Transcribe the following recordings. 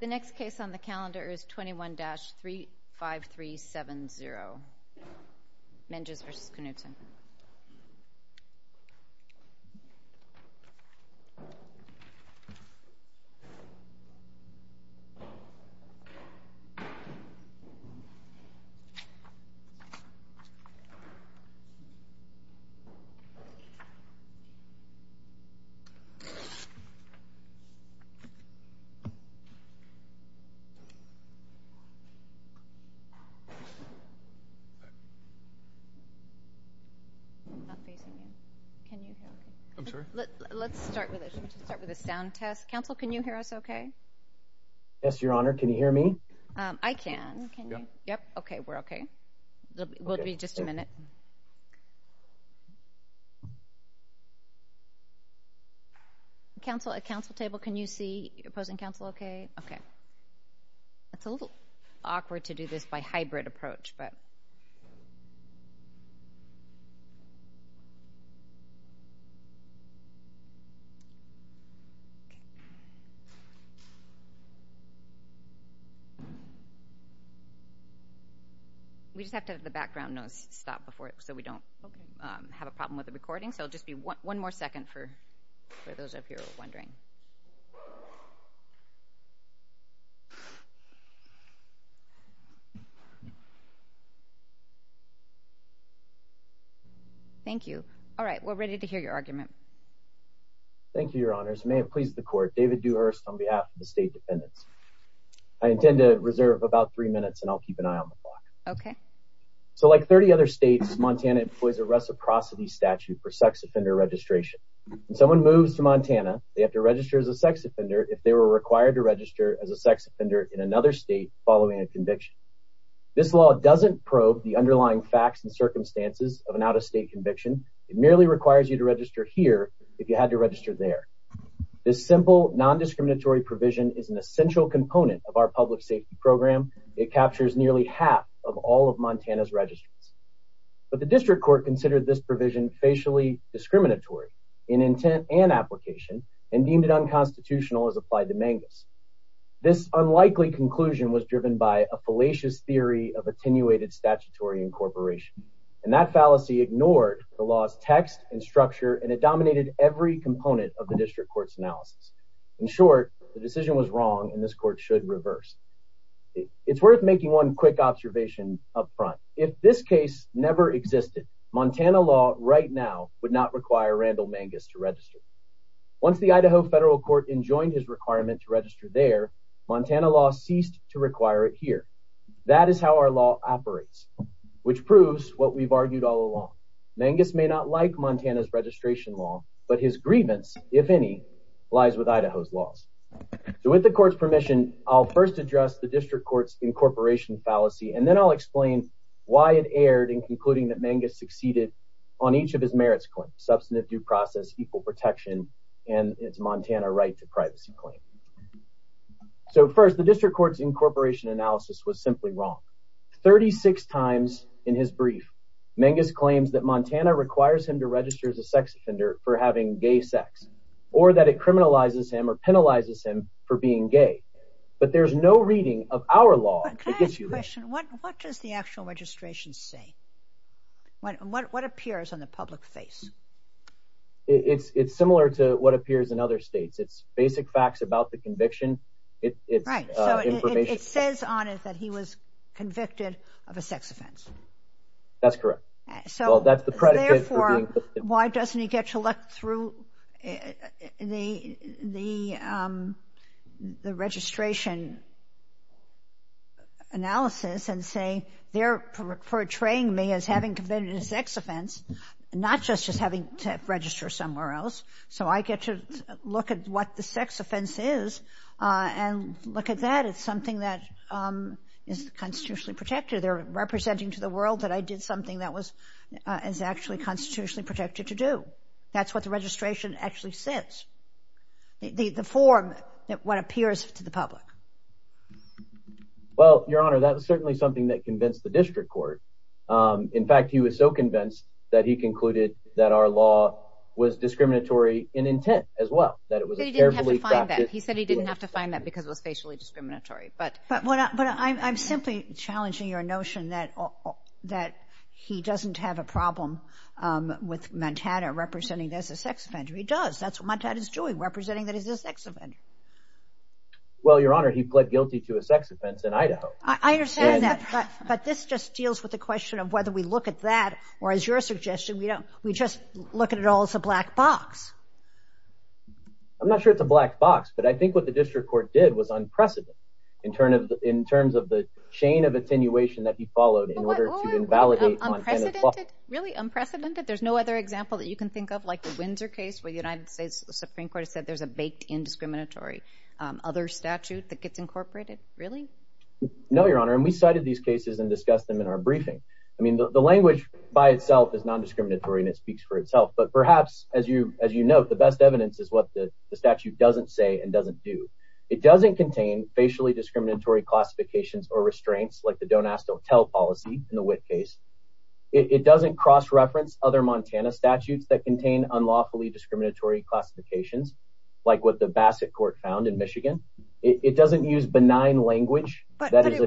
The next case on the calendar is 21-35370, Menges v. Knudsen. Let's start with a sound test. Counsel, can you hear us okay? Yes, Your Honor. Can you hear me? I can. Yep. Okay. We're okay. We'll be just a minute. Counsel, at the council table, can you see opposing counsel okay? Okay. It's a little awkward to do this by hybrid approach, but... We just have to have the background noise stop before it... Okay. So we don't have a problem with the recording. So it'll just be one more second for those of you who are wondering. Thank you. All right, we're ready to hear your argument. Thank you, Your Honors. It may have pleased the court. David Dewhurst on behalf of the state defendants. I intend to reserve about three minutes and I'll keep an eye on the clock. Okay. So like 30 other states, Montana employs a reciprocity statute for sex offender registration. When someone moves to Montana, they have to register as a sex offender if they were required to register as a sex offender in another state following a conviction. This law doesn't probe the underlying facts and circumstances of an out-of-state conviction. It merely requires you to register here if you had to register there. This simple, non-discriminatory provision is an essential component of our public safety program. It captures nearly half of all of Montana's registries. But the district court considered this provision facially discriminatory in intent and application and deemed it unconstitutional as applied to Mangus. This unlikely conclusion was driven by a fallacious theory of attenuated statutory incorporation. And that fallacy ignored the law's text and structure and it dominated every component of the district court's analysis. In short, the decision was wrong and this court should reverse it. It's worth making one quick observation up front. If this case never existed, Montana law right now would not require Randall Mangus to register. Once the Idaho federal court enjoined his requirement to register there, Montana law ceased to require it here. That is how our law operates, which proves what we've argued all along. Mangus may not like Montana's registration law, but his grievance, if any, lies with Idaho's laws. So with the court's permission, I'll first address the district court's incorporation fallacy, and then I'll explain why it erred in concluding that Mangus succeeded on each of his merits claims, substantive due process, equal protection, and its Montana right to privacy claim. So first, the district court's incorporation analysis was simply wrong. 36 times in his brief, Mangus claims that Montana requires him to register as a sex offender for having gay sex, or that it criminalizes him or penalizes him for being gay. But there's no reading of our law that gives you that. But can I ask a question? What does the actual registration say? What appears on the public face? It's similar to what appears in other states. It's basic facts about the conviction. Right, so it says on it that he was convicted of a sex offense. That's correct. Well, that's the predicate for being convicted. Why doesn't he get to look through the registration analysis and say they're portraying me as having committed a sex offense, not just as having to register somewhere else. So I get to look at what the sex offense is and look at that. It's something that is constitutionally protected. They're representing to the world that I did something that was actually constitutionally protected to do. That's what the registration actually says. The form, what appears to the public. Well, Your Honor, that was certainly something that convinced the district court. In fact, he was so convinced that he concluded that our law was discriminatory in intent as well. He said he didn't have to find that because it was facially discriminatory. But I'm simply challenging your notion that he doesn't have a problem with Montana representing as a sex offender. He does. That's what Montana is doing, representing that he's a sex offender. Well, Your Honor, he pled guilty to a sex offense in Idaho. I understand that, but this just deals with the question of whether we look at that or, as your suggestion, we just look at it all as a black box. I'm not sure it's a black box, but I think what the district court did was unprecedented in terms of the chain of attenuation that he followed in order to invalidate Montana's law. Unprecedented? Really unprecedented? There's no other example that you can think of like the Windsor case where the United States Supreme Court said there's a baked indiscriminatory other statute that gets incorporated? Really? No, Your Honor, and we cited these cases and discussed them in our briefing. I mean, the language by itself is nondiscriminatory, and it speaks for itself, but perhaps, as you note, the best evidence is what the statute doesn't say and doesn't do. It doesn't contain facially discriminatory classifications or restraints like the don't ask, don't tell policy in the Witt case. It doesn't cross-reference other Montana statutes that contain unlawfully discriminatory classifications like what the Bassett court found in Michigan. It doesn't use benign language. But it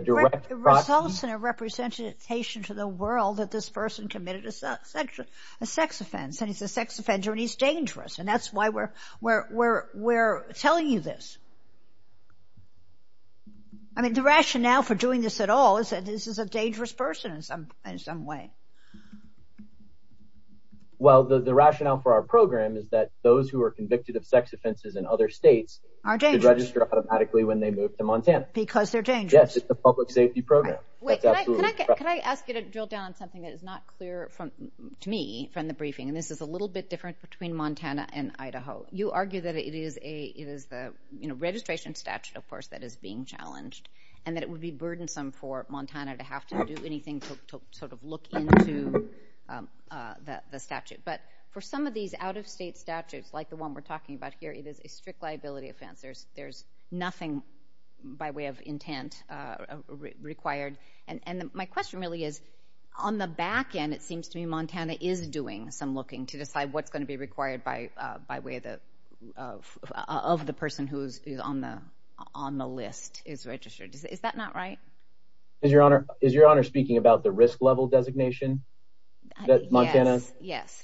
results in a representation to the world that this person committed a sex offense, and he's a sex offender, and he's dangerous, and that's why we're telling you this. I mean, the rationale for doing this at all is that this is a dangerous person in some way. Well, the rationale for our program is that those who are convicted of sex offenses in other states are registered automatically when they move to Montana. Because they're dangerous. Yes, it's a public safety program. Wait, can I ask you to drill down on something that is not clear to me from the briefing, and this is a little bit different between Montana and Idaho. You argue that it is the registration statute, of course, that is being challenged, and that it would be burdensome for Montana to have to do anything to sort of look into the statute. But for some of these out-of-state statutes, like the one we're talking about here, it is a strict liability offense. There's nothing by way of intent required. And my question really is, on the back end, it seems to me Montana is doing some looking to decide what's going to be required by way of the person who is on the list is registered. Is that not right? Is Your Honor speaking about the risk-level designation that Montana sometimes does? Yes.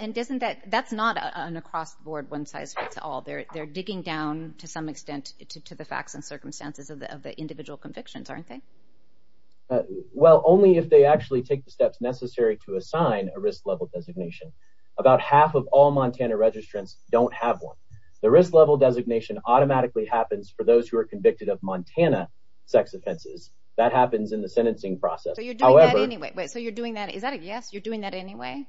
And that's not an across-the-board, one-size-fits-all. They're digging down, to some extent, to the facts and circumstances of the individual convictions, aren't they? Well, only if they actually take the steps necessary to assign a risk-level designation. About half of all Montana registrants don't have one. The risk-level designation automatically happens for those who are convicted of Montana sex offenses. That happens in the sentencing process. So you're doing that anyway? Is that a yes, you're doing that anyway?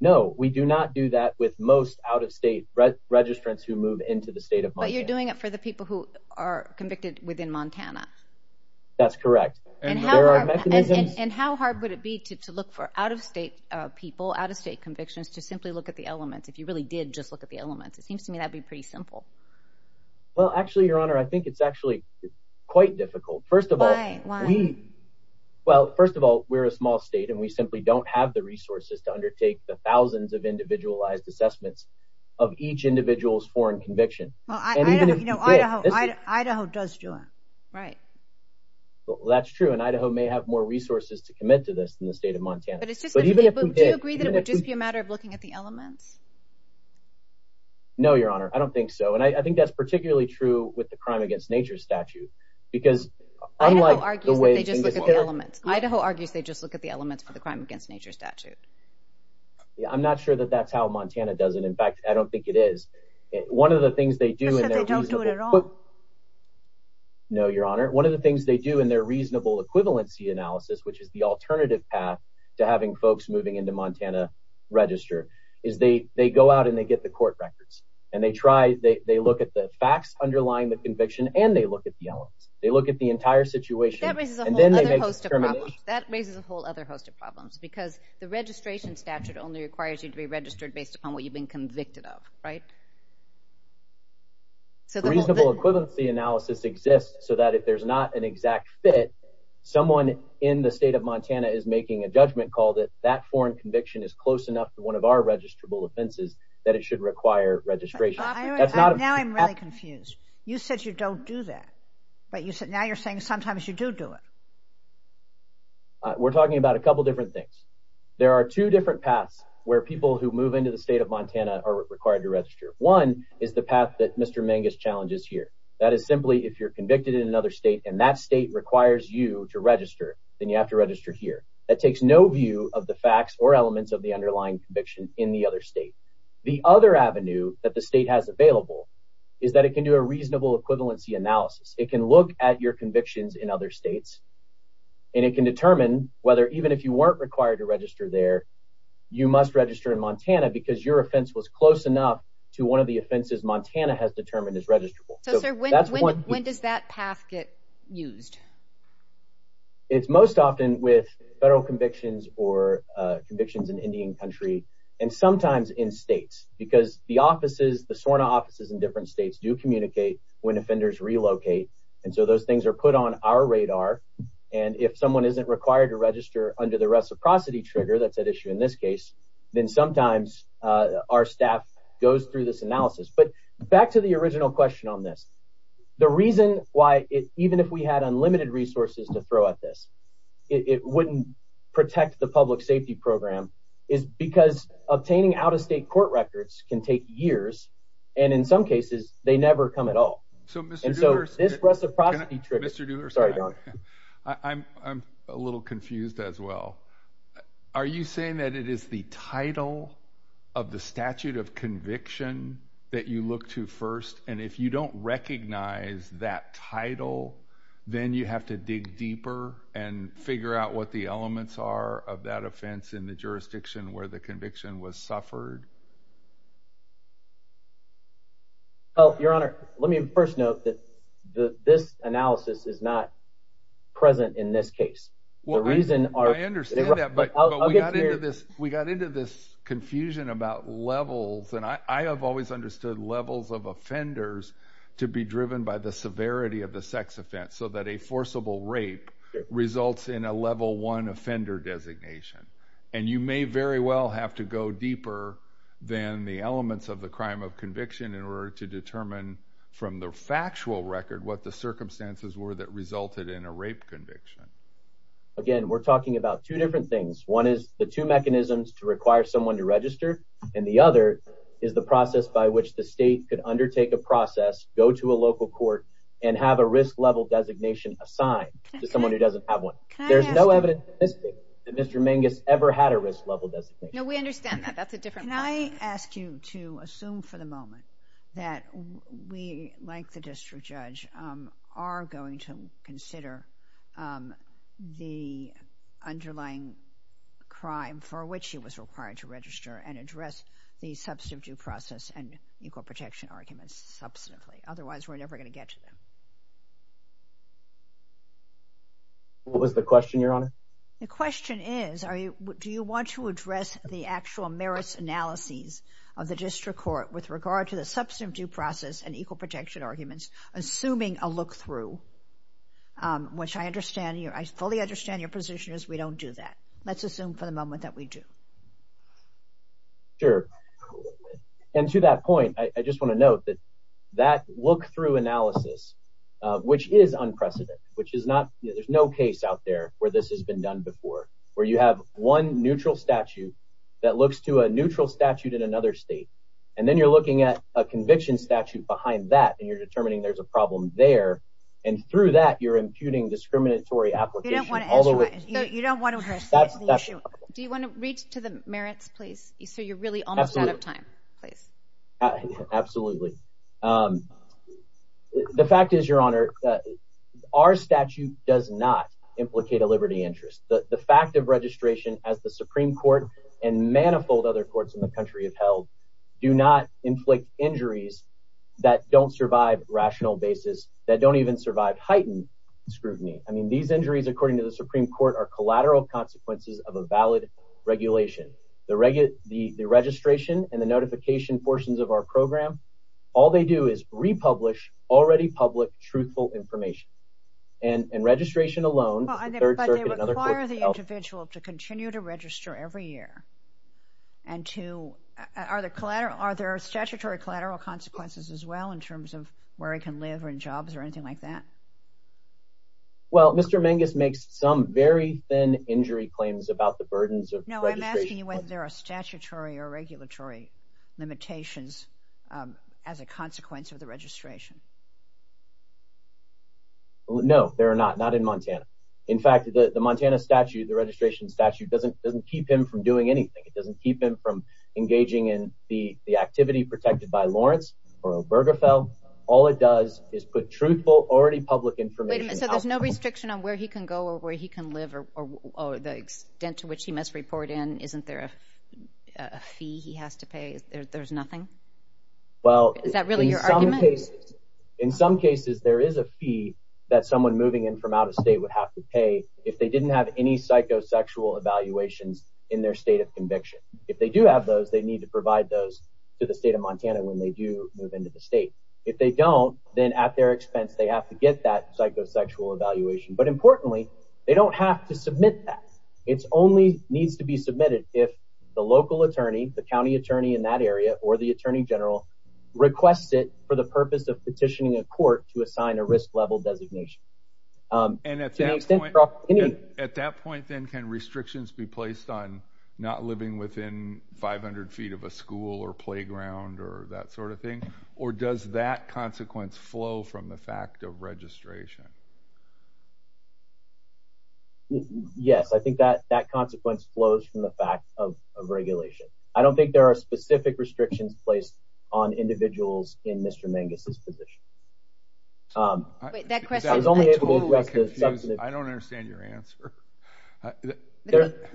No, we do not do that with most out-of-state registrants who move into the state of Montana. But you're doing it for the people who are convicted within Montana. That's correct. And how hard would it be to look for out-of-state people, out-of-state convictions, to simply look at the elements, if you really did just look at the elements? It seems to me that would be pretty simple. Well, actually, Your Honor, I think it's actually quite difficult. Why? Well, first of all, we're a small state, and we simply don't have the resources to undertake the thousands of individualized assessments of each individual's foreign conviction. Well, Idaho does do it, right. Well, that's true, and Idaho may have more resources to commit to this than the state of Montana. But do you agree that it would just be a matter of looking at the elements? No, Your Honor, I don't think so. And I think that's particularly true with the crime against nature statute because unlike the way things are going. Idaho argues they just look at the elements for the crime against nature statute. Yeah, I'm not sure that that's how Montana does it. In fact, I don't think it is. You said they don't do it at all. No, Your Honor. One of the things they do in their reasonable equivalency analysis, which is the alternative path to having folks moving into Montana register, is they go out and they get the court records, and they look at the facts underlying the conviction, and they look at the elements. They look at the entire situation, and then they make a determination. That raises a whole other host of problems because the registration statute only requires you to be registered based upon what you've been convicted of, right? The reasonable equivalency analysis exists so that if there's not an exact fit, someone in the state of Montana is making a judgment call that that foreign conviction is close enough to one of our registrable offenses that it should require registration. Now I'm really confused. You said you don't do that, but now you're saying sometimes you do do it. We're talking about a couple different things. There are two different paths where people who move into the state of Montana are required to register. One is the path that Mr. Mangus challenges here. That is simply if you're convicted in another state and that state requires you to register, then you have to register here. That takes no view of the facts or elements of the underlying conviction in the other state. The other avenue that the state has available is that it can do a reasonable equivalency analysis. It can look at your convictions in other states, and it can determine whether even if you weren't required to register there, you must register in Montana because your offense was close enough to one of the offenses Montana has determined is registrable. When does that path get used? It's most often with federal convictions or convictions in Indian country and sometimes in states because the SORNA offices in different states do communicate when offenders relocate. Those things are put on our radar. If someone isn't required to register under the reciprocity trigger that's at issue in this case, then sometimes our staff goes through this analysis. Back to the original question on this. The reason why even if we had unlimited resources to throw at this, it wouldn't protect the public safety program is because obtaining out-of-state court records can take years. In some cases, they never come at all. Mr. Dooler, I'm a little confused as well. Are you saying that it is the title of the statute of conviction that you look to first, and if you don't recognize that title, then you have to dig deeper and figure out what the elements are of that offense in the jurisdiction where the conviction was suffered? Your Honor, let me first note that this analysis is not present in this case. I understand that, but we got into this confusion about levels, and I have always understood levels of offenders to be driven by the severity of the sex offense so that a forcible rape results in a level one offender designation. You may very well have to go deeper than the elements of the crime of conviction in order to determine from the factual record what the circumstances were that resulted in a rape conviction. Again, we're talking about two different things. One is the two mechanisms to require someone to register, and the other is the process by which the state could undertake a process, go to a local court, and have a risk-level designation assigned to someone who doesn't have one. There's no evidence in this case that Mr. Mingus ever had a risk-level designation. No, we understand that. That's a different point. Can I ask you to assume for the moment that we, like the district judge, are going to consider the underlying crime for which he was required to register and address the substantive due process and equal protection arguments substantively? Otherwise, we're never going to get to them. What was the question, Your Honor? The question is, do you want to address the actual merits analyses of the district court with regard to the substantive due process and equal protection arguments, assuming a look-through, which I fully understand your position is we don't do that. Let's assume for the moment that we do. Sure. And to that point, I just want to note that that look-through analysis which is unprecedented. There's no case out there where this has been done before, where you have one neutral statute that looks to a neutral statute in another state, and then you're looking at a conviction statute behind that, and you're determining there's a problem there. And through that, you're imputing discriminatory application all the way. You don't want to address the issue. Do you want to read to the merits, please, so you're really almost out of time? Absolutely. Absolutely. The fact is, Your Honor, our statute does not implicate a liberty interest. The fact of registration as the Supreme Court and manifold other courts in the country have held do not inflict injuries that don't survive rational basis, that don't even survive heightened scrutiny. I mean, these injuries, according to the Supreme Court, are collateral consequences of a valid regulation. The registration and the notification portions of our program, all they do is republish already public truthful information. And registration alone, the Third Circuit and other courts have held. But they require the individual to continue to register every year. And are there statutory collateral consequences as well in terms of where he can live or in jobs or anything like that? Well, Mr. Menges makes some very thin injury claims about the burdens of registration. No, I'm asking you whether there are statutory or regulatory limitations as a consequence of the registration. No, there are not, not in Montana. In fact, the Montana statute, the registration statute, doesn't keep him from doing anything. It doesn't keep him from engaging in the activity protected by Lawrence or Obergefell. All it does is put truthful, already public information. Wait a minute, so there's no restriction on where he can go or where he can live or the extent to which he must report in? Isn't there a fee he has to pay? There's nothing? Is that really your argument? In some cases, there is a fee that someone moving in from out of state would have to pay if they didn't have any psychosexual evaluations in their state of conviction. If they do have those, they need to provide those to the state of Montana when they do move into the state. If they don't, then at their expense they have to get that psychosexual evaluation. But importantly, they don't have to submit that. It only needs to be submitted if the local attorney, the county attorney in that area, or the attorney general requests it for the purpose of petitioning a court to assign a risk-level designation. And at that point, then, can restrictions be placed on not living within 500 feet of a school or playground or that sort of thing? Or does that consequence flow from the fact of registration? Yes, I think that consequence flows from the fact of regulation. I don't think there are specific restrictions placed on individuals in Mr. Mangus's position. I was only able to address this. I don't understand your answer. Let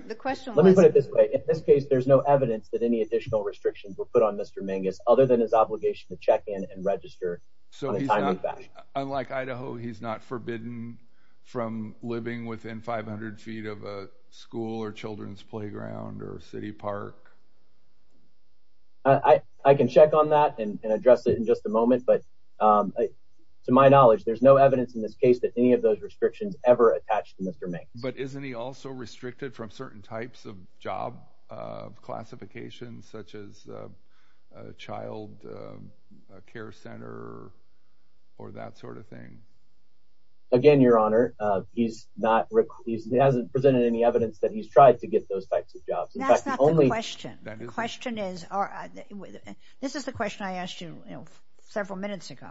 me put it this way. In this case, there's no evidence that any additional restrictions were put on Mr. Mangus other than his obligation to check in and register on a timely basis. So unlike Idaho, he's not forbidden from living within 500 feet of a school or children's playground or a city park? I can check on that and address it in just a moment. But to my knowledge, there's no evidence in this case that any of those restrictions ever attach to Mr. Mangus. But isn't he also restricted from certain types of job classifications such as a child care center or that sort of thing? Again, Your Honor, he hasn't presented any evidence that he's tried to get those types of jobs. That's not the question. The question is, this is the question I asked you several minutes ago.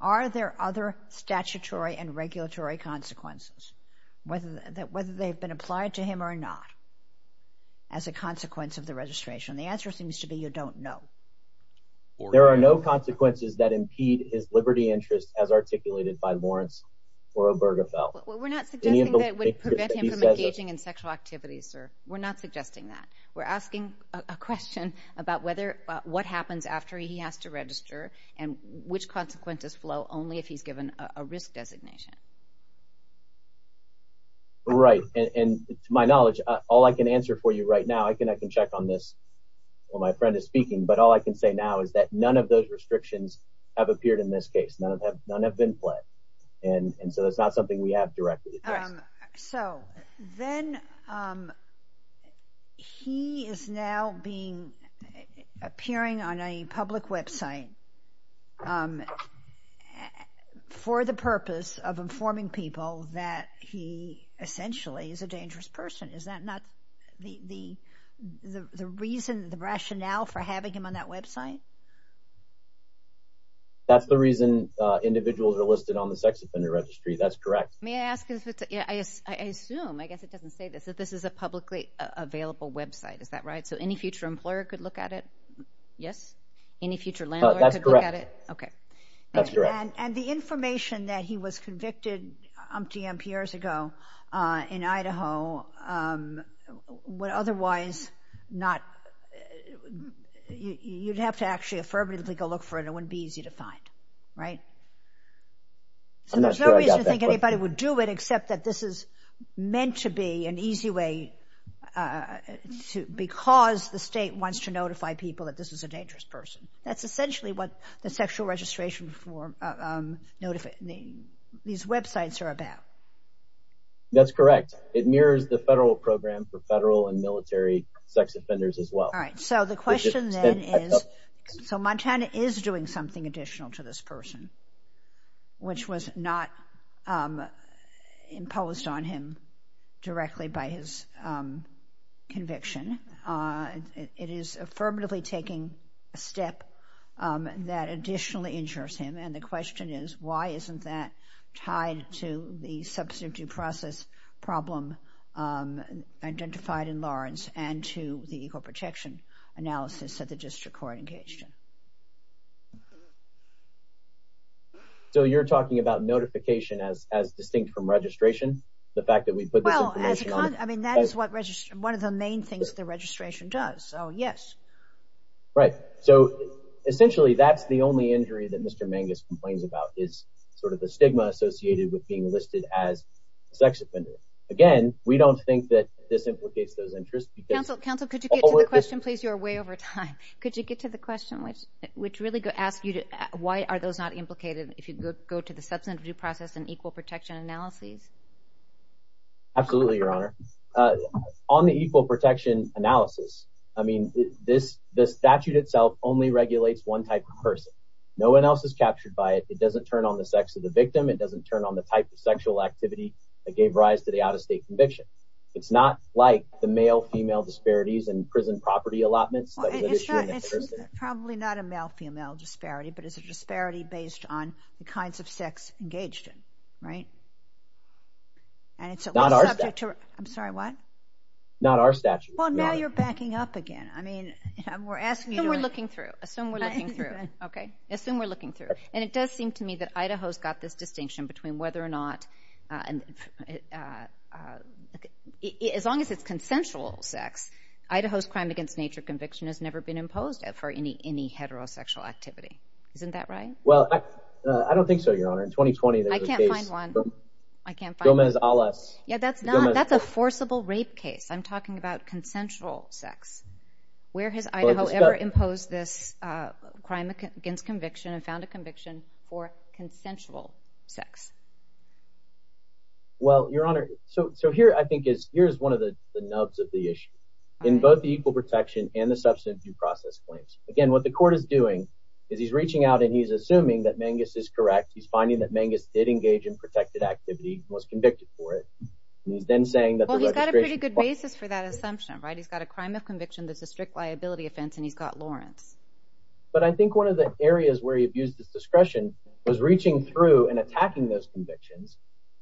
Are there other statutory and regulatory consequences, whether they've been applied to him or not, as a consequence of the registration? The answer seems to be you don't know. There are no consequences that impede his liberty interest as articulated by Lawrence or Obergefell. We're not suggesting that it would prevent him from engaging in sexual activities, sir. We're not suggesting that. And which consequences flow only if he's given a risk designation? Right. And to my knowledge, all I can answer for you right now, I can check on this while my friend is speaking, but all I can say now is that none of those restrictions have appeared in this case. None have been pledged. And so that's not something we have directly. So then he is now appearing on a public website for the purpose of informing people that he essentially is a dangerous person. Is that not the reason, the rationale for having him on that website? That's the reason individuals are listed on the sex offender registry. That's correct. May I ask if it's – I assume, I guess it doesn't say this, that this is a publicly available website. Is that right? So any future employer could look at it? Yes? Any future landlord could look at it? That's correct. Okay. That's correct. And the information that he was convicted of years ago in Idaho would otherwise not – you'd have to actually affirmatively go look for it. It wouldn't be easy to find, right? I'm not sure I got that question. So there's no reason to think anybody would do it except that this is meant to be an easy way because the state wants to notify people that this is a dangerous person. That's essentially what the sexual registration form – these websites are about. That's correct. It mirrors the federal program for federal and military sex offenders as well. All right. So the question then is – so Montana is doing something additional to this person, which was not imposed on him directly by his conviction. It is affirmatively taking a step that additionally injures him, and the question is why isn't that tied to the substitute process problem identified in Lawrence and to the equal protection analysis that the district court engaged in? So you're talking about notification as distinct from registration, the fact that we put this information on – Well, as a – I mean, that is what – one of the main things the registration does. So, yes. Right. So essentially that's the only injury that Mr. Mangus complains about is sort of the stigma associated with being listed as a sex offender. Again, we don't think that this implicates those interests because – Counsel, counsel, could you get to the question, please? You're way over time. Could you get to the question, which really asks you to – why are those not implicated if you go to the substitute process and equal protection analysis? Absolutely, Your Honor. On the equal protection analysis, I mean, this – the statute itself only regulates one type of person. No one else is captured by it. It doesn't turn on the sex of the victim. It doesn't turn on the type of sexual activity that gave rise to the out-of-state conviction. It's not like the male-female disparities in prison property allotments that was an issue in the first – It's not – it's probably not a male-female disparity, but it's a disparity based on the kinds of sex engaged in, right? And it's at least subject to – Not our statute. I'm sorry, what? Not our statute, Your Honor. Well, now you're backing up again. I mean, we're asking you to – Assume we're looking through. Assume we're looking through. Okay. Assume we're looking through. And it does seem to me that Idaho's got this distinction between whether or not – as long as it's consensual sex, Idaho's crime against nature conviction has never been imposed for any heterosexual activity. Isn't that right? Well, I don't think so, Your Honor. In 2020, there was a case – I can't find one. I can't find one. Gomez-Alas. Yeah, that's not – that's a forcible rape case. I'm talking about consensual sex. Where has Idaho ever imposed this crime against conviction and found a conviction for consensual sex? Well, Your Honor, so here I think is – here is one of the nubs of the issue. In both the equal protection and the substantive due process claims. Again, what the court is doing is he's reaching out and he's assuming that Mangus is correct. He's finding that Mangus did engage in protected activity and was convicted for it. And he's then saying that the registration – Well, he's got a pretty good basis for that assumption, right? He's got a crime of conviction that's a strict liability offense, and he's got Lawrence. But I think one of the areas where he abused his discretion was reaching through and attacking those convictions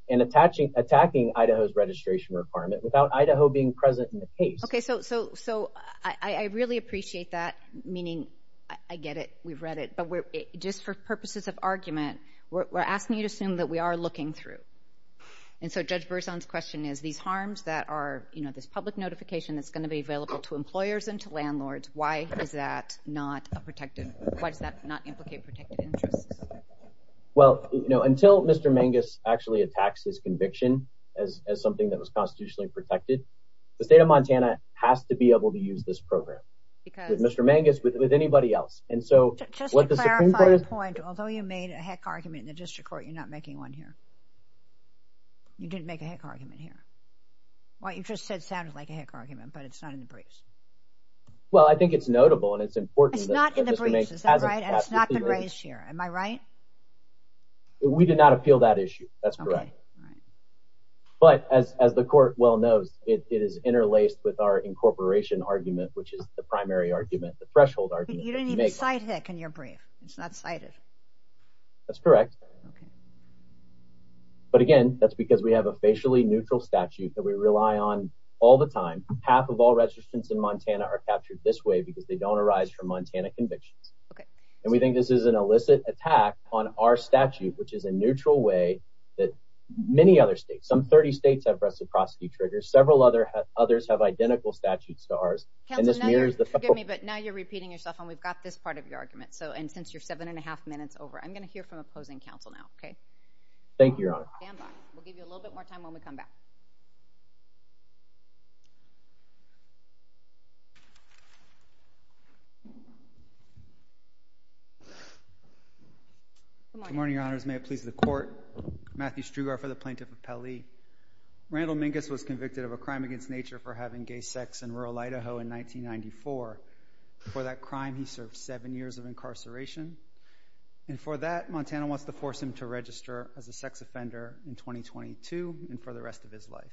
and attacking Idaho's registration requirement without Idaho being present in the case. Okay, so I really appreciate that, meaning I get it. We've read it. But just for purposes of argument, we're asking you to assume that we are looking through. And so Judge Berzon's question is, these harms that are this public notification that's going to be available to employers and to landlords, why is that not a protected – why does that not implicate protected interests? Well, until Mr. Mangus actually attacks his conviction as something that was constitutionally protected, the state of Montana has to be able to use this program. With Mr. Mangus, with anybody else. And so what the Supreme Court – Just to clarify a point, although you made a heck argument in the district court, you're not making one here. You didn't make a heck argument here. What you just said sounded like a heck argument, but it's not in the briefs. Well, I think it's notable and it's important that – It's not in the briefs, is that right? And it's not been raised here, am I right? We did not appeal that issue. That's correct. But as the Court well knows, it is interlaced with our incorporation argument, which is the primary argument, the threshold argument. But you didn't even cite heck in your brief. It's not cited. That's correct. Okay. But again, that's because we have a facially neutral statute that we rely on all the time. Half of all registrants in Montana are captured this way because they don't arise from Montana convictions. Okay. And we think this is an illicit attack on our statute, which is a neutral way that many other states – some 30 states have reciprocity triggers. Several others have identical statutes to ours. Counsel, now you're – And this mirrors the – Forgive me, but now you're repeating yourself, and we've got this part of your argument. So – and since you're seven and a half minutes over, I'm going to hear from opposing counsel now, okay? Thank you, Your Honor. Stand by. We'll give you a little bit more time when we come back. Good morning, Your Honors. May it please the Court. Matthew Strugar for the Plaintiff of Pele. Randall Minkus was convicted of a crime against nature for having gay sex in rural Idaho in 1994. For that crime, he served seven years of incarceration. And for that, Montana wants to force him to register as a sex offender in 2022 and for the rest of his life.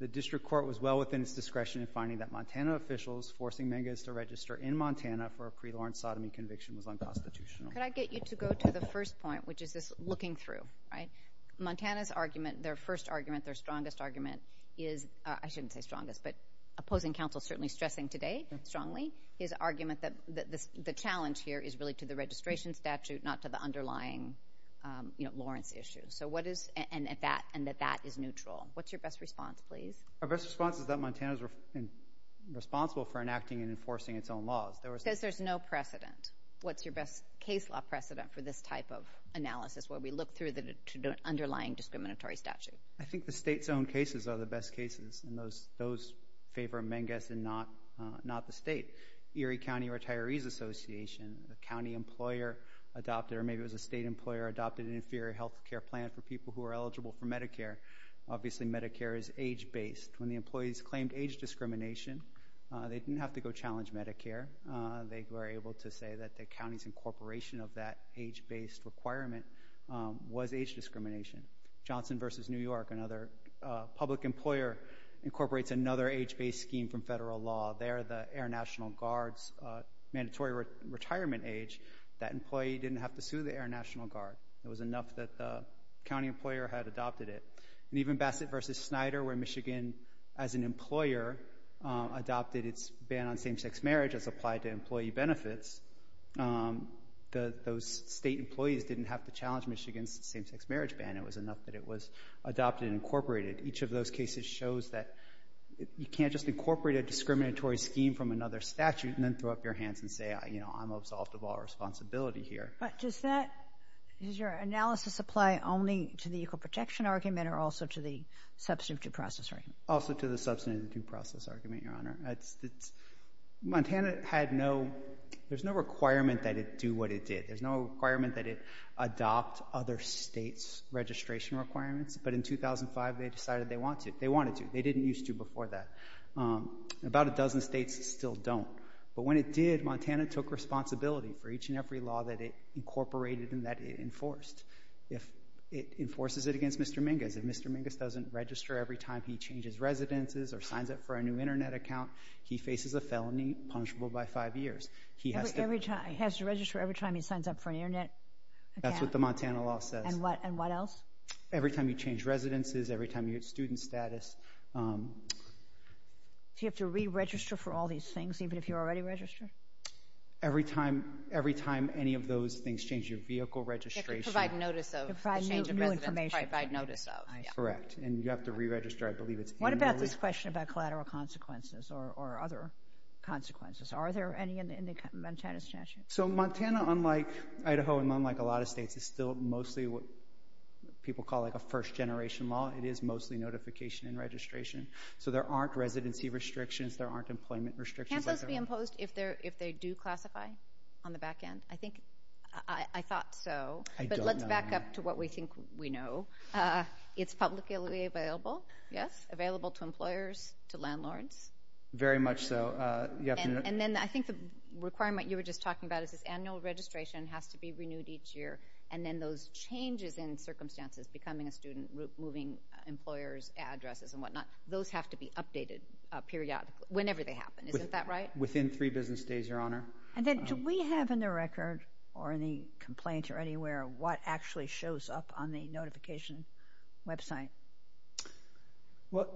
The district court was well within its discretion in finding that Montana officials forcing Minkus to register in Montana for a pre-Lawrence sodomy conviction was unconstitutional. Could I get you to go to the first point, which is this looking through, right? Montana's argument, their first argument, their strongest argument is – I shouldn't say strongest, but opposing counsel certainly stressing today strongly his argument that the challenge here is really to the registration statute, not to the underlying Lawrence issue. So what is – and that that is neutral. What's your best response, please? Our best response is that Montana is responsible for enacting and enforcing its own laws. It says there's no precedent. What's your best case law precedent for this type of analysis where we look through the underlying discriminatory statute? I think the state's own cases are the best cases and those favor Minkus and not the state. Erie County Retirees Association, a county employer adopted, or maybe it was a state employer, adopted an inferior health care plan for people who are eligible for Medicare. Obviously, Medicare is age-based. When the employees claimed age discrimination, they didn't have to go challenge Medicare. They were able to say that the county's incorporation of that age-based requirement was age discrimination. Johnson v. New York, another public employer, incorporates another age-based scheme from federal law. They're the Air National Guard's mandatory retirement age. That employee didn't have to sue the Air National Guard. It was enough that the county employer had adopted it. And even Bassett v. Snyder, where Michigan, as an employer, adopted its ban on same-sex marriage as applied to employee benefits, those state employees didn't have to challenge against the same-sex marriage ban. It was enough that it was adopted and incorporated. Each of those cases shows that you can't just incorporate a discriminatory scheme from another statute and then throw up your hands and say, you know, I'm absolved of all responsibility here. But does that, does your analysis apply only to the equal protection argument or also to the substantive due process argument? Also to the substantive due process argument, Your Honor. Montana had no, there's no requirement that it do what it did. There's no requirement that it adopt other states' registration requirements. But in 2005, they decided they wanted to. They didn't used to before that. About a dozen states still don't. But when it did, Montana took responsibility for each and every law that it incorporated and that it enforced. It enforces it against Mr. Mingus. If Mr. Mingus doesn't register every time he changes residences or signs up for a new Internet account, he faces a felony punishable by five years. Every time, he has to register every time he signs up for an Internet account? That's what the Montana law says. And what else? Every time you change residences, every time you get student status. Do you have to re-register for all these things, even if you're already registered? Every time any of those things change your vehicle registration. You have to provide notice of the change of residence. Provide new information. Provide notice of, yeah. Correct, and you have to re-register, I believe it's annually. What about this question about collateral consequences or other consequences? Are there any in Montana's statute? Montana, unlike Idaho and unlike a lot of states, is still mostly what people call a first-generation law. It is mostly notification and registration. There aren't residency restrictions. There aren't employment restrictions. Can't those be imposed if they do classify on the back end? I thought so. I don't know. Let's back up to what we think we know. It's publicly available, yes? Available to employers, to landlords. Very much so. I think the requirement you were just talking about is this annual registration has to be renewed each year, and then those changes in circumstances, becoming a student, moving employers' addresses and whatnot, those have to be updated periodically, whenever they happen. Isn't that right? Within three business days, Your Honor. And then do we have in the record or in the complaint or anywhere what actually shows up on the notification website? Well,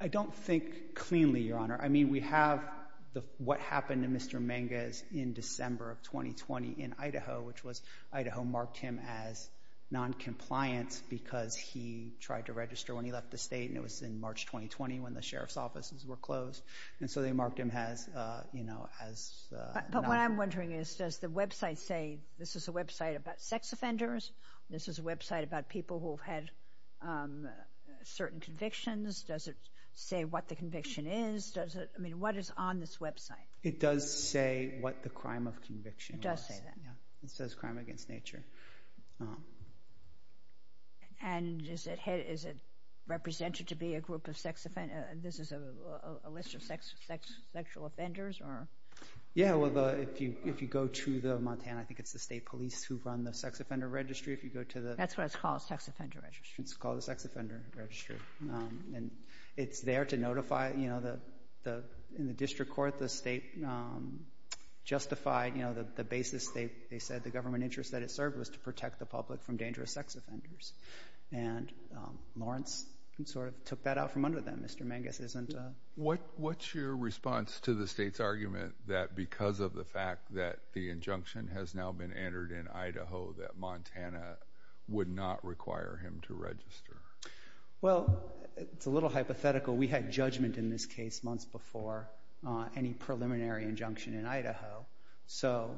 I don't think cleanly, Your Honor. I mean, we have what happened to Mr. Mangas in December of 2020 in Idaho, which was Idaho marked him as noncompliant because he tried to register when he left the state and it was in March 2020 when the sheriff's offices were closed, and so they marked him as, you know, as noncompliant. But what I'm wondering is, does the website say, this is a website about sex offenders, this is a website about people who've had certain convictions, does it say what the conviction is? I mean, what is on this website? It does say what the crime of conviction was. It does say that. It says crime against nature. And is it represented to be a group of sex offenders? This is a list of sexual offenders? Yeah, well, if you go to the Montana, I think it's the state police who run the sex offender registry. That's what it's called, the sex offender registry. It's called the sex offender registry. And it's there to notify, you know, in the district court, the state justified, you know, the basis. They said the government interest that it served was to protect the public from dangerous sex offenders. And Lawrence sort of took that out from under them. Mr. Mangas isn't. What's your response to the state's argument that because of the fact that the injunction has now been entered in Idaho, that Montana would not require him to register? Well, it's a little hypothetical. We had judgment in this case months before any preliminary injunction in Idaho. So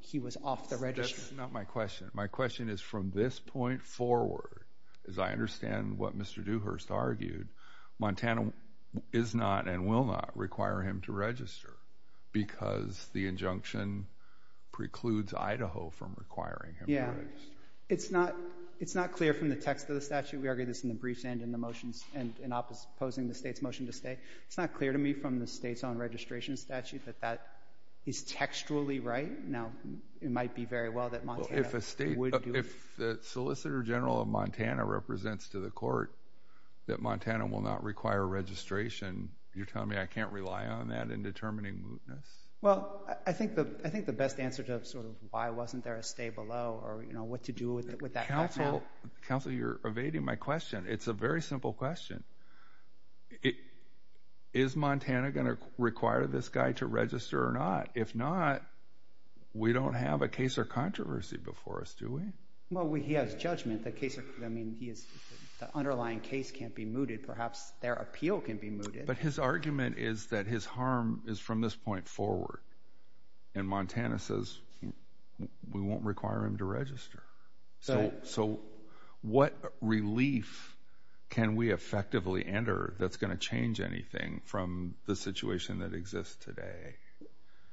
he was off the registry. That's not my question. My question is from this point forward, as I understand what Mr. Dewhurst argued, Montana is not and will not require him to register because the injunction precludes Idaho from requiring him to register. Yeah. It's not clear from the text of the statute. We argued this in the briefs and in the motions and in opposing the state's motion to stay. It's not clear to me from the state's own registration statute that that is textually right. Now, it might be very well that Montana would do it. If the solicitor general of Montana represents to the court that Montana will not require registration, you're telling me I can't rely on that in determining mootness? Well, I think the best answer to sort of why wasn't there a stay below or what to do with that counsel. Counsel, you're evading my question. It's a very simple question. Is Montana going to require this guy to register or not? If not, we don't have a case or controversy before us, do we? Well, he has judgment. The underlying case can't be mooted. Perhaps their appeal can be mooted. But his argument is that his harm is from this point forward, and Montana says we won't require him to register. So what relief can we effectively enter that's going to change anything from the situation that exists today?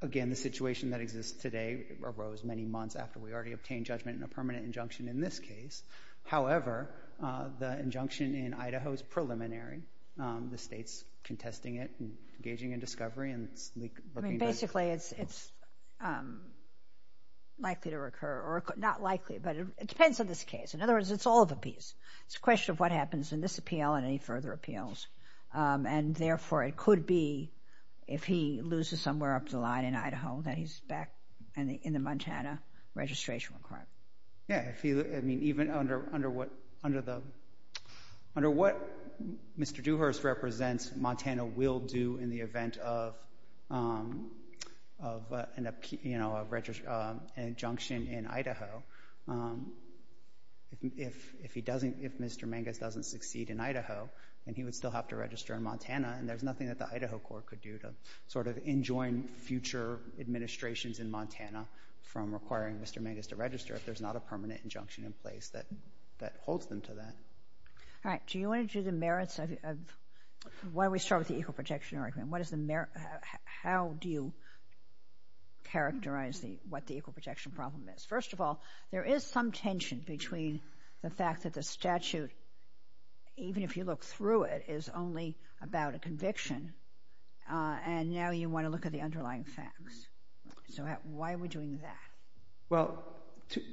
Again, the situation that exists today arose many months after we already obtained judgment in a permanent injunction in this case. However, the injunction in Idaho is preliminary. The state's contesting it and engaging in discovery. Basically, it's likely to recur or not likely, but it depends on this case. In other words, it's all of a piece. It's a question of what happens in this appeal and any further appeals. Therefore, it could be if he loses somewhere up the line in Idaho that he's back in the Montana registration requirement. Yeah, even under what Mr. Dewhurst represents, Montana will do in the event of an injunction in Idaho. If Mr. Mangus doesn't succeed in Idaho, he would still have to register in Montana, and there's nothing that the Idaho court could do to sort of enjoin future administrations in Montana from requiring Mr. Mangus to register if there's not a permanent injunction in place that holds them to that. Do you want to do the merits of— why don't we start with the equal protection argument? How do you characterize what the equal protection problem is? First of all, there is some tension between the fact that the statute, even if you look through it, is only about a conviction, and now you want to look at the underlying facts. So why are we doing that? Well,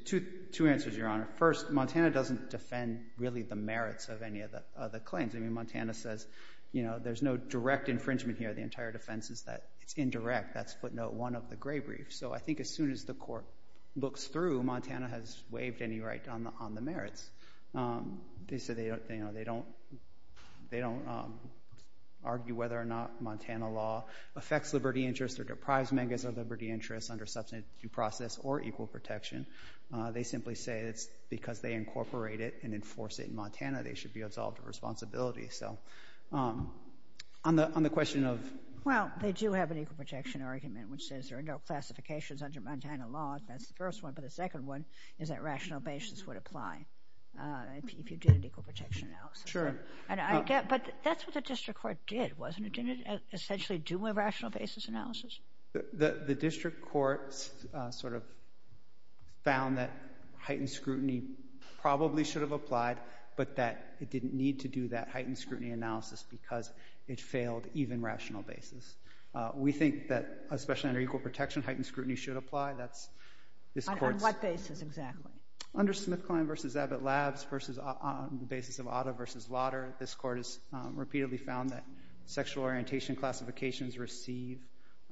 two answers, Your Honor. First, Montana doesn't defend really the merits of any of the claims. I mean, Montana says there's no direct infringement here. The entire defense is that it's indirect. That's footnote one of the gray brief. So I think as soon as the court looks through, Montana has waived any right on the merits. They say they don't argue whether or not Montana law affects liberty interests or deprives Mangus of liberty interests under substantive due process or equal protection. They simply say it's because they incorporate it and enforce it in Montana they should be absolved of responsibility. So on the question of— Well, they do have an equal protection argument, which says there are no classifications under Montana law. That's the first one. But the second one is that rational basis would apply if you did an equal protection analysis. Sure. But that's what the district court did, wasn't it? Didn't it essentially do a rational basis analysis? The district court sort of found that heightened scrutiny probably should have applied, but that it didn't need to do that heightened scrutiny analysis because it failed even rational basis. We think that, especially under equal protection, heightened scrutiny should apply. That's— On what basis exactly? Under Smith-Klein v. Abbott Labs versus on the basis of Otto v. Lauder, this Court has repeatedly found that sexual orientation classifications receive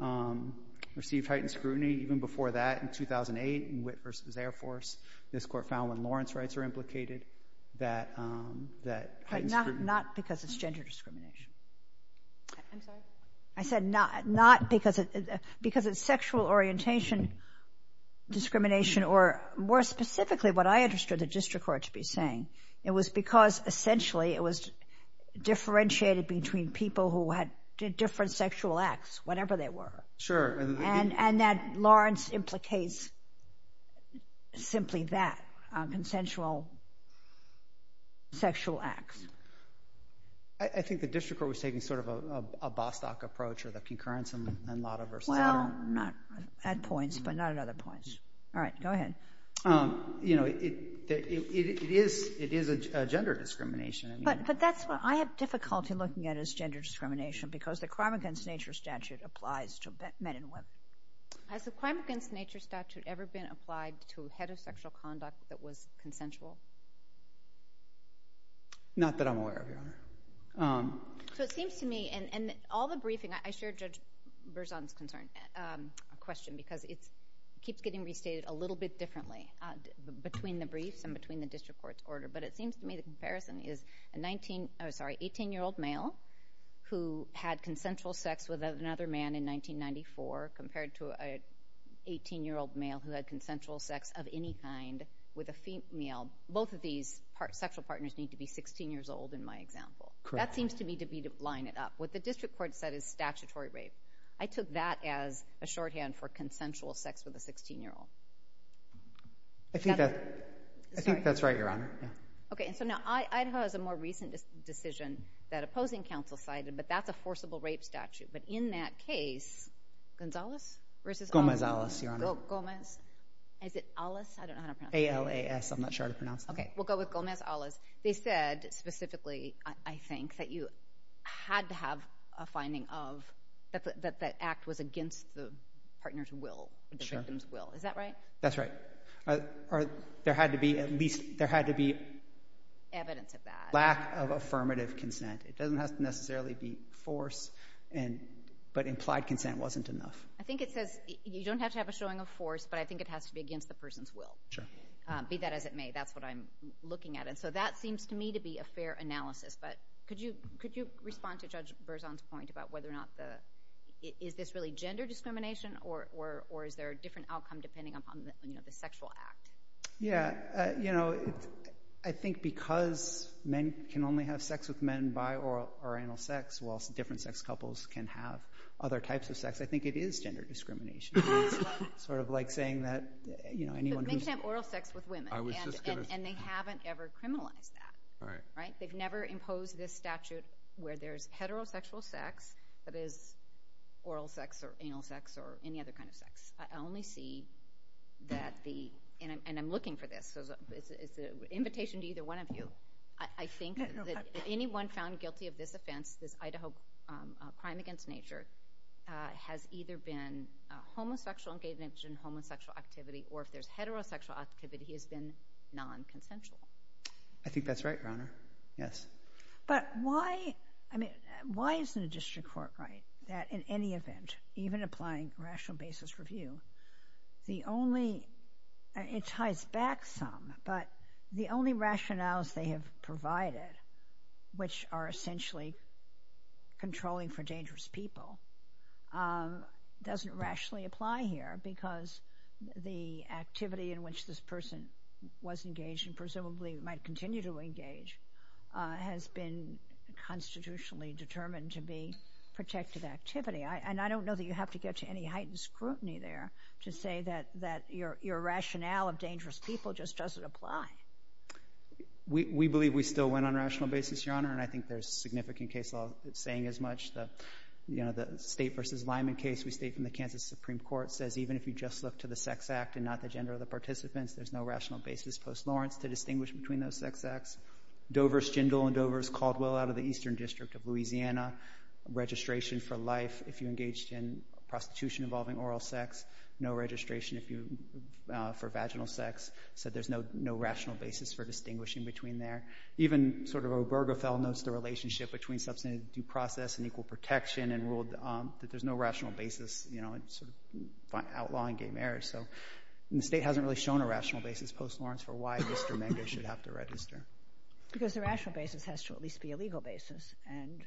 heightened scrutiny. Even before that, in 2008, in Witt v. Air Force, this Court found when Lawrence rights were implicated that heightened scrutiny— But not because it's gender discrimination. I'm sorry? I said not because it's sexual orientation discrimination or, more specifically, what I understood the district court to be saying. It was because, essentially, it was differentiated between people who had different sexual acts, whatever they were. Sure. And that Lawrence implicates simply that, consensual sexual acts. I think the district court was taking sort of a Bostock approach or the concurrence in Lauder v. Lauder. Well, not at points, but not at other points. All right, go ahead. You know, it is a gender discrimination. But that's what I have difficulty looking at is gender discrimination because the Crime Against Nature statute applies to men and women. Has the Crime Against Nature statute ever been applied to heterosexual conduct that was consensual? Not that I'm aware of, Your Honor. So it seems to me, and all the briefing— I shared Judge Berzon's question because it keeps getting restated a little bit differently between the briefs and between the district court's order. But it seems to me the comparison is an 18-year-old male who had consensual sex with another man in 1994 compared to an 18-year-old male who had consensual sex of any kind with a female. Both of these sexual partners need to be 16 years old in my example. That seems to me to be to line it up. What the district court said is statutory rape. I took that as a shorthand for consensual sex with a 16-year-old. I think that's right, Your Honor. Okay, and so now Idaho has a more recent decision that opposing counsel cited, but that's a forcible rape statute. But in that case, Gonzalez versus— Gomez-Alas, Your Honor. Gomez. Is it Alas? I don't know how to pronounce it. A-L-A-S. I'm not sure how to pronounce it. Okay, we'll go with Gomez-Alas. They said specifically, I think, that you had to have a finding of— that that act was against the partner's will, the victim's will. Is that right? That's right. Or there had to be at least— There had to be— Evidence of that. Lack of affirmative consent. It doesn't have to necessarily be force, but implied consent wasn't enough. I think it says you don't have to have a showing of force, but I think it has to be against the person's will. Sure. Be that as it may. That's what I'm looking at. And so that seems to me to be a fair analysis, but could you respond to Judge Berzon's point about whether or not the— is this really gender discrimination or is there a different outcome depending upon the sexual act? Yeah. You know, I think because men can only have sex with men by oral or anal sex whilst different sex couples can have other types of sex, I think it is gender discrimination. It's sort of like saying that anyone— But men can have oral sex with women, and they haven't ever criminalized that. They've never imposed this statute where there's heterosexual sex that is oral sex or anal sex or any other kind of sex. I only see that the— and I'm looking for this, so it's an invitation to either one of you. I think that anyone found guilty of this offense, this Idaho crime against nature, has either been homosexual, engaged in homosexual activity, or if there's heterosexual activity, he has been non-consensual. I think that's right, Your Honor. Yes. But why—I mean, why isn't a district court right that in any event, even applying rational basis review, the only—it ties back some, but the only rationales they have provided, which are essentially controlling for dangerous people, doesn't rationally apply here because the activity in which this person was engaged and presumably might continue to engage has been constitutionally determined to be protective activity. And I don't know that you have to get to any heightened scrutiny there to say that your rationale of dangerous people just doesn't apply. We believe we still went on rational basis, Your Honor, and I think there's significant case law saying as much. You know, the State v. Lyman case we state from the Kansas Supreme Court says even if you just look to the sex act and not the gender of the participants, there's no rational basis post Lawrence to distinguish between those sex acts. Dover's Jindal and Dover's Caldwell out of the Eastern District of Louisiana, registration for life if you engaged in prostitution involving oral sex, no registration for vaginal sex, said there's no rational basis for distinguishing between there. Even sort of Obergefell notes the relationship between substantive due process and equal protection and ruled that there's no rational basis, you know, sort of outlawing gay marriage. So the State hasn't really shown a rational basis post Lawrence for why Mr. Menger should have to register. Because the rational basis has to at least be a legal basis, and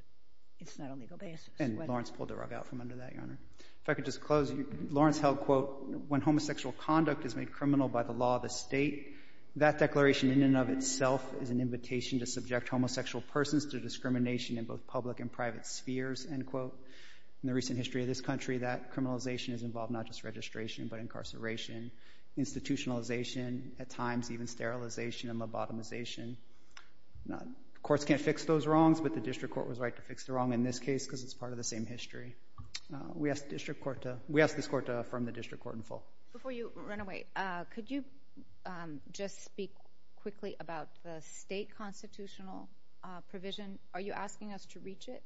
it's not a legal basis. And Lawrence pulled the rug out from under that, Your Honor. If I could just close, Lawrence held, quote, when homosexual conduct is made criminal by the law of the State, that declaration in and of itself is an invitation to subject homosexual persons to discrimination in both public and private spheres, end quote. In the recent history of this country, that criminalization has involved not just registration but incarceration, institutionalization, at times even sterilization and lobotomization. Courts can't fix those wrongs, but the district court was right to fix the wrong in this case because it's part of the same history. We asked the district court to... Before you run away, could you just speak quickly about the State constitutional provision? Are you asking us to reach it?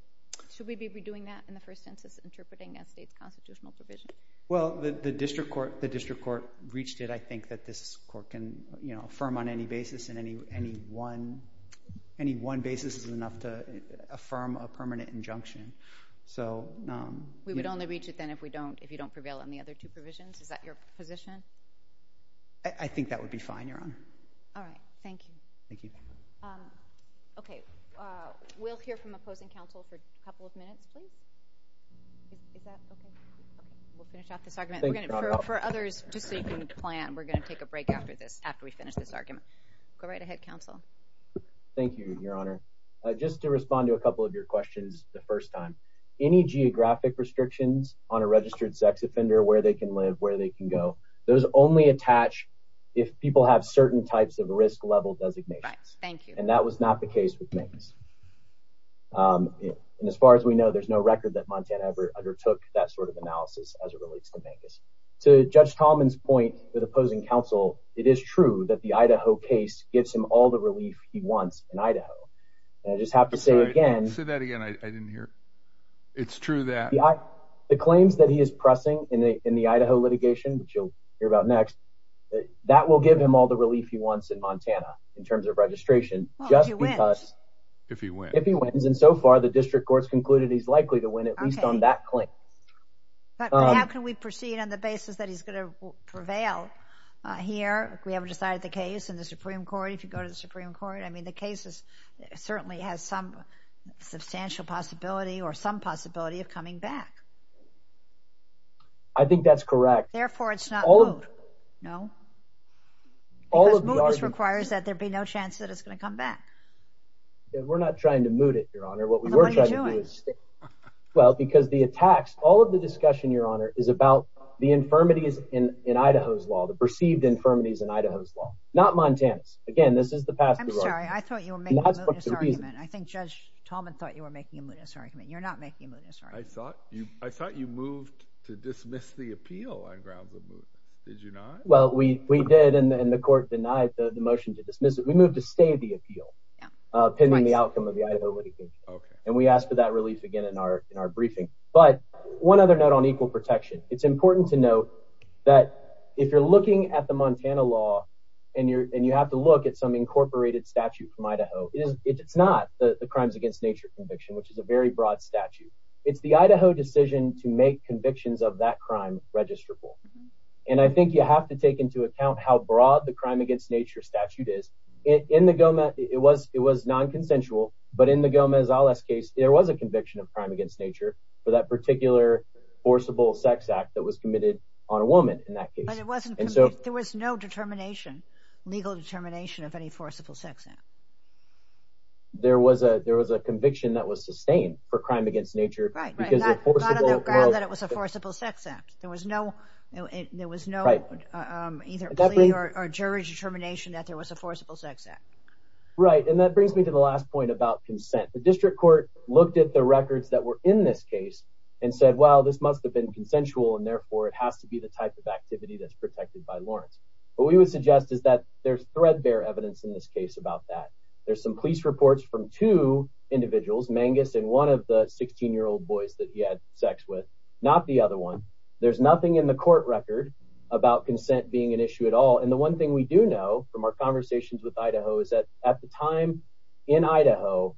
Should we be redoing that in the first census interpreting that State's constitutional provision? Well, the district court reached it. I think that this court can, you know, affirm on any basis, and any one basis is enough to affirm a permanent injunction. So... We would only reach it then if you don't prevail on the other two provisions? Is that your position? I think that would be fine, Your Honor. All right, thank you. Thank you. Okay, we'll hear from opposing counsel for a couple of minutes, please. Is that okay? We'll finish off this argument. For others, just so you can plan, we're going to take a break after this, after we finish this argument. Go right ahead, counsel. Thank you, Your Honor. Just to respond to a couple of your questions the first time, any geographic restrictions on a registered sex offender, where they can live, where they can go, those only attach if people have certain types of risk-level designations. Right, thank you. And that was not the case with Mancos. And as far as we know, there's no record that Montana ever undertook that sort of analysis as it relates to Mancos. To Judge Tallman's point with opposing counsel, it is true that the Idaho case gives him all the relief he wants in Idaho. And I just have to say again... Say that again, I didn't hear. It's true that... The claims that he is pressing in the Idaho litigation, which you'll hear about next, that will give him all the relief he wants in Montana in terms of registration, just because... Well, if he wins. If he wins. If he wins. And so far, the district courts concluded he's likely to win at least on that claim. But how can we proceed on the basis that he's going to prevail here? We haven't decided the case in the Supreme Court. If you go to the Supreme Court, I mean, the case certainly has some substantial possibility or some possibility of coming back. I think that's correct. Therefore, it's not moot. No? Because mootness requires that there be no chance that it's going to come back. We're not trying to moot it, Your Honor. What we were trying to do is... Well, because the attacks, all of the discussion, Your Honor, is about the infirmities in Idaho's law, the perceived infirmities in Idaho's law. Not Montana's. Again, this is the past... I'm sorry, I thought you were making a mootness argument. I think Judge Tallman thought you were making a mootness argument. You're not making a mootness argument. I thought you moved to dismiss the appeal on grounds of mootness. Did you not? Well, we did, and the court denied the motion to dismiss it. We moved to stay the appeal, pending the outcome of the Idaho litigation. Okay. And we asked for that relief again in our briefing. But one other note on equal protection. It's important to note that if you're looking at the Montana law and you have to look at some incorporated statute from Idaho, it's not the crimes against nature conviction, which is a very broad statute. It's the Idaho decision to make convictions of that crime registrable. And I think you have to take into account how broad the crime against nature statute is. In the Gomez... It was non-consensual, but in the Gomez-Alez case, there was a conviction of crime against nature for that particular forcible sex act that was committed on a woman in that case. But it wasn't... There was no determination, legal determination of any forcible sex act. There was a conviction that was sustained for crime against nature. Right. And that got on the ground that it was a forcible sex act. There was no... Right. Either plea or jury determination that there was a forcible sex act. Right. And that brings me to the last point about consent. The district court looked at the records that were in this case and said, well, this must have been consensual, and therefore it has to be the type of activity that's protected by Lawrence. What we would suggest is that there's threadbare evidence in this case about that. There's some police reports from two individuals, Mangus and one of the 16-year-old boys that he had sex with, not the other one. There's nothing in the court record about consent being an issue at all. And the one thing we do know from our conversations with Idaho is that at the time in Idaho,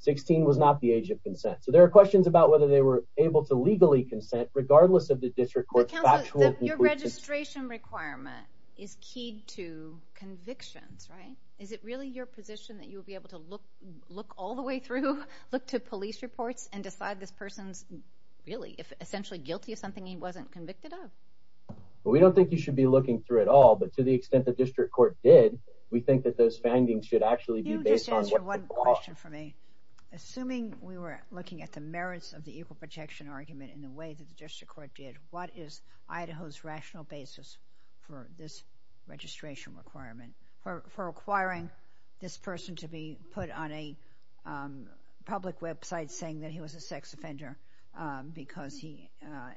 16 was not the age of consent. So there are questions about whether they were able to legally consent, regardless of the district court's factual... But, counsel, your registration requirement is keyed to convictions, right? Is it really your position that you would be able to look all the way through, look to police reports, and decide this person's really, essentially guilty of something he wasn't convicted of? Well, we don't think you should be looking through it all, but to the extent the district court did, we think that those findings should actually be based on... Can you just answer one question for me? Assuming we were looking at the merits of the equal protection argument in the way that the district court did, what is Idaho's rational basis for this registration requirement, for requiring this person to be put on a public website saying that he was a sex offender because he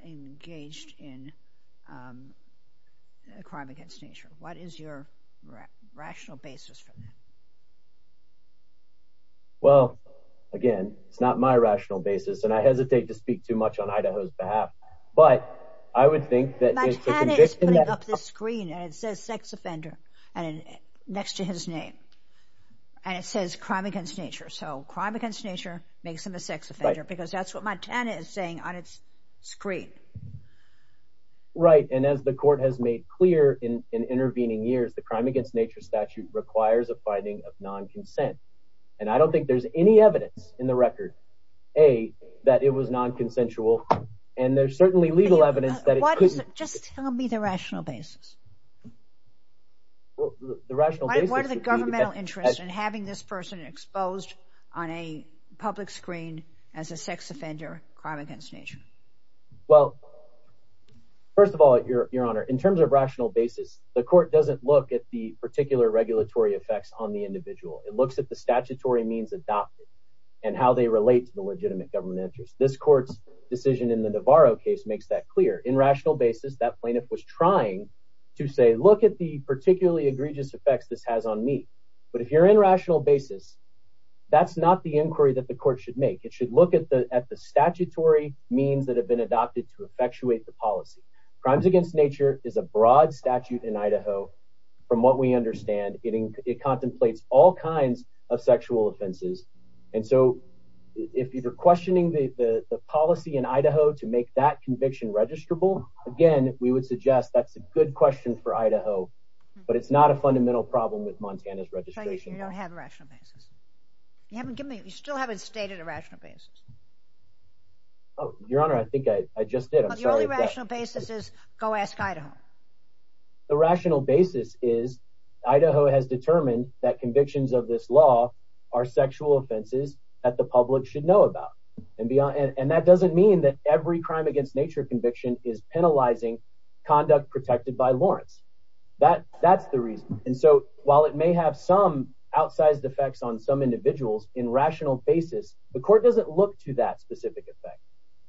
engaged in a crime against nature? What is your rational basis for that? Well, again, it's not my rational basis, and I hesitate to speak too much on Idaho's behalf. But I would think that... Montana is putting up this screen, and it says sex offender next to his name, and it says crime against nature. So crime against nature makes him a sex offender because that's what Montana is saying on its screen. Right, and as the court has made clear in intervening years, the crime against nature statute requires a finding of non-consent. And I don't think there's any evidence in the record, A, that it was non-consensual, and there's certainly legal evidence that it could... Just tell me the rational basis. The rational basis would be... What are the governmental interests in having this person exposed on a public screen as a sex offender, crime against nature? Well, first of all, Your Honor, in terms of rational basis, the court doesn't look at the particular regulatory effects on the individual. It looks at the statutory means adopted and how they relate to the legitimate government interest. This court's decision in the Navarro case makes that clear. In rational basis, that plaintiff was trying to say, look at the particularly egregious effects this has on me. But if you're in rational basis, that's not the inquiry that the court should make. It should look at the statutory means that have been adopted to effectuate the policy. Crimes against nature is a broad statute in Idaho. From what we understand, it contemplates all kinds of sexual offenses. And so if you're questioning the policy in Idaho to make that conviction registrable, again, we would suggest that's a good question for Idaho. But it's not a fundamental problem with Montana's registration. So you don't have a rational basis? You still haven't stated a rational basis. Oh, Your Honor, I think I just did. The only rational basis is, go ask Idaho. The rational basis is, Idaho has determined that convictions of this law are sexual offenses that the public should know about. And that doesn't mean that every crime against nature conviction is penalizing conduct protected by Lawrence. That's the reason. And so while it may have some outsized effects on some individuals in rational basis, the court doesn't look to that specific effect.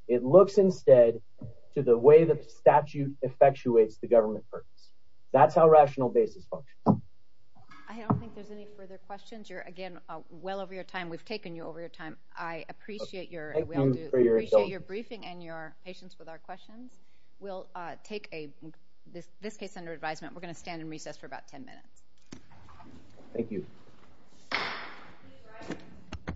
It looks instead to the way the statute effectuates the government purpose. That's how rational basis functions. I don't think there's any further questions. Again, well over your time, we've taken you over your time. I appreciate your briefing and your patience with our questions. We'll take this case under advisement. We're going to stand in recess for about 10 minutes. Thank you.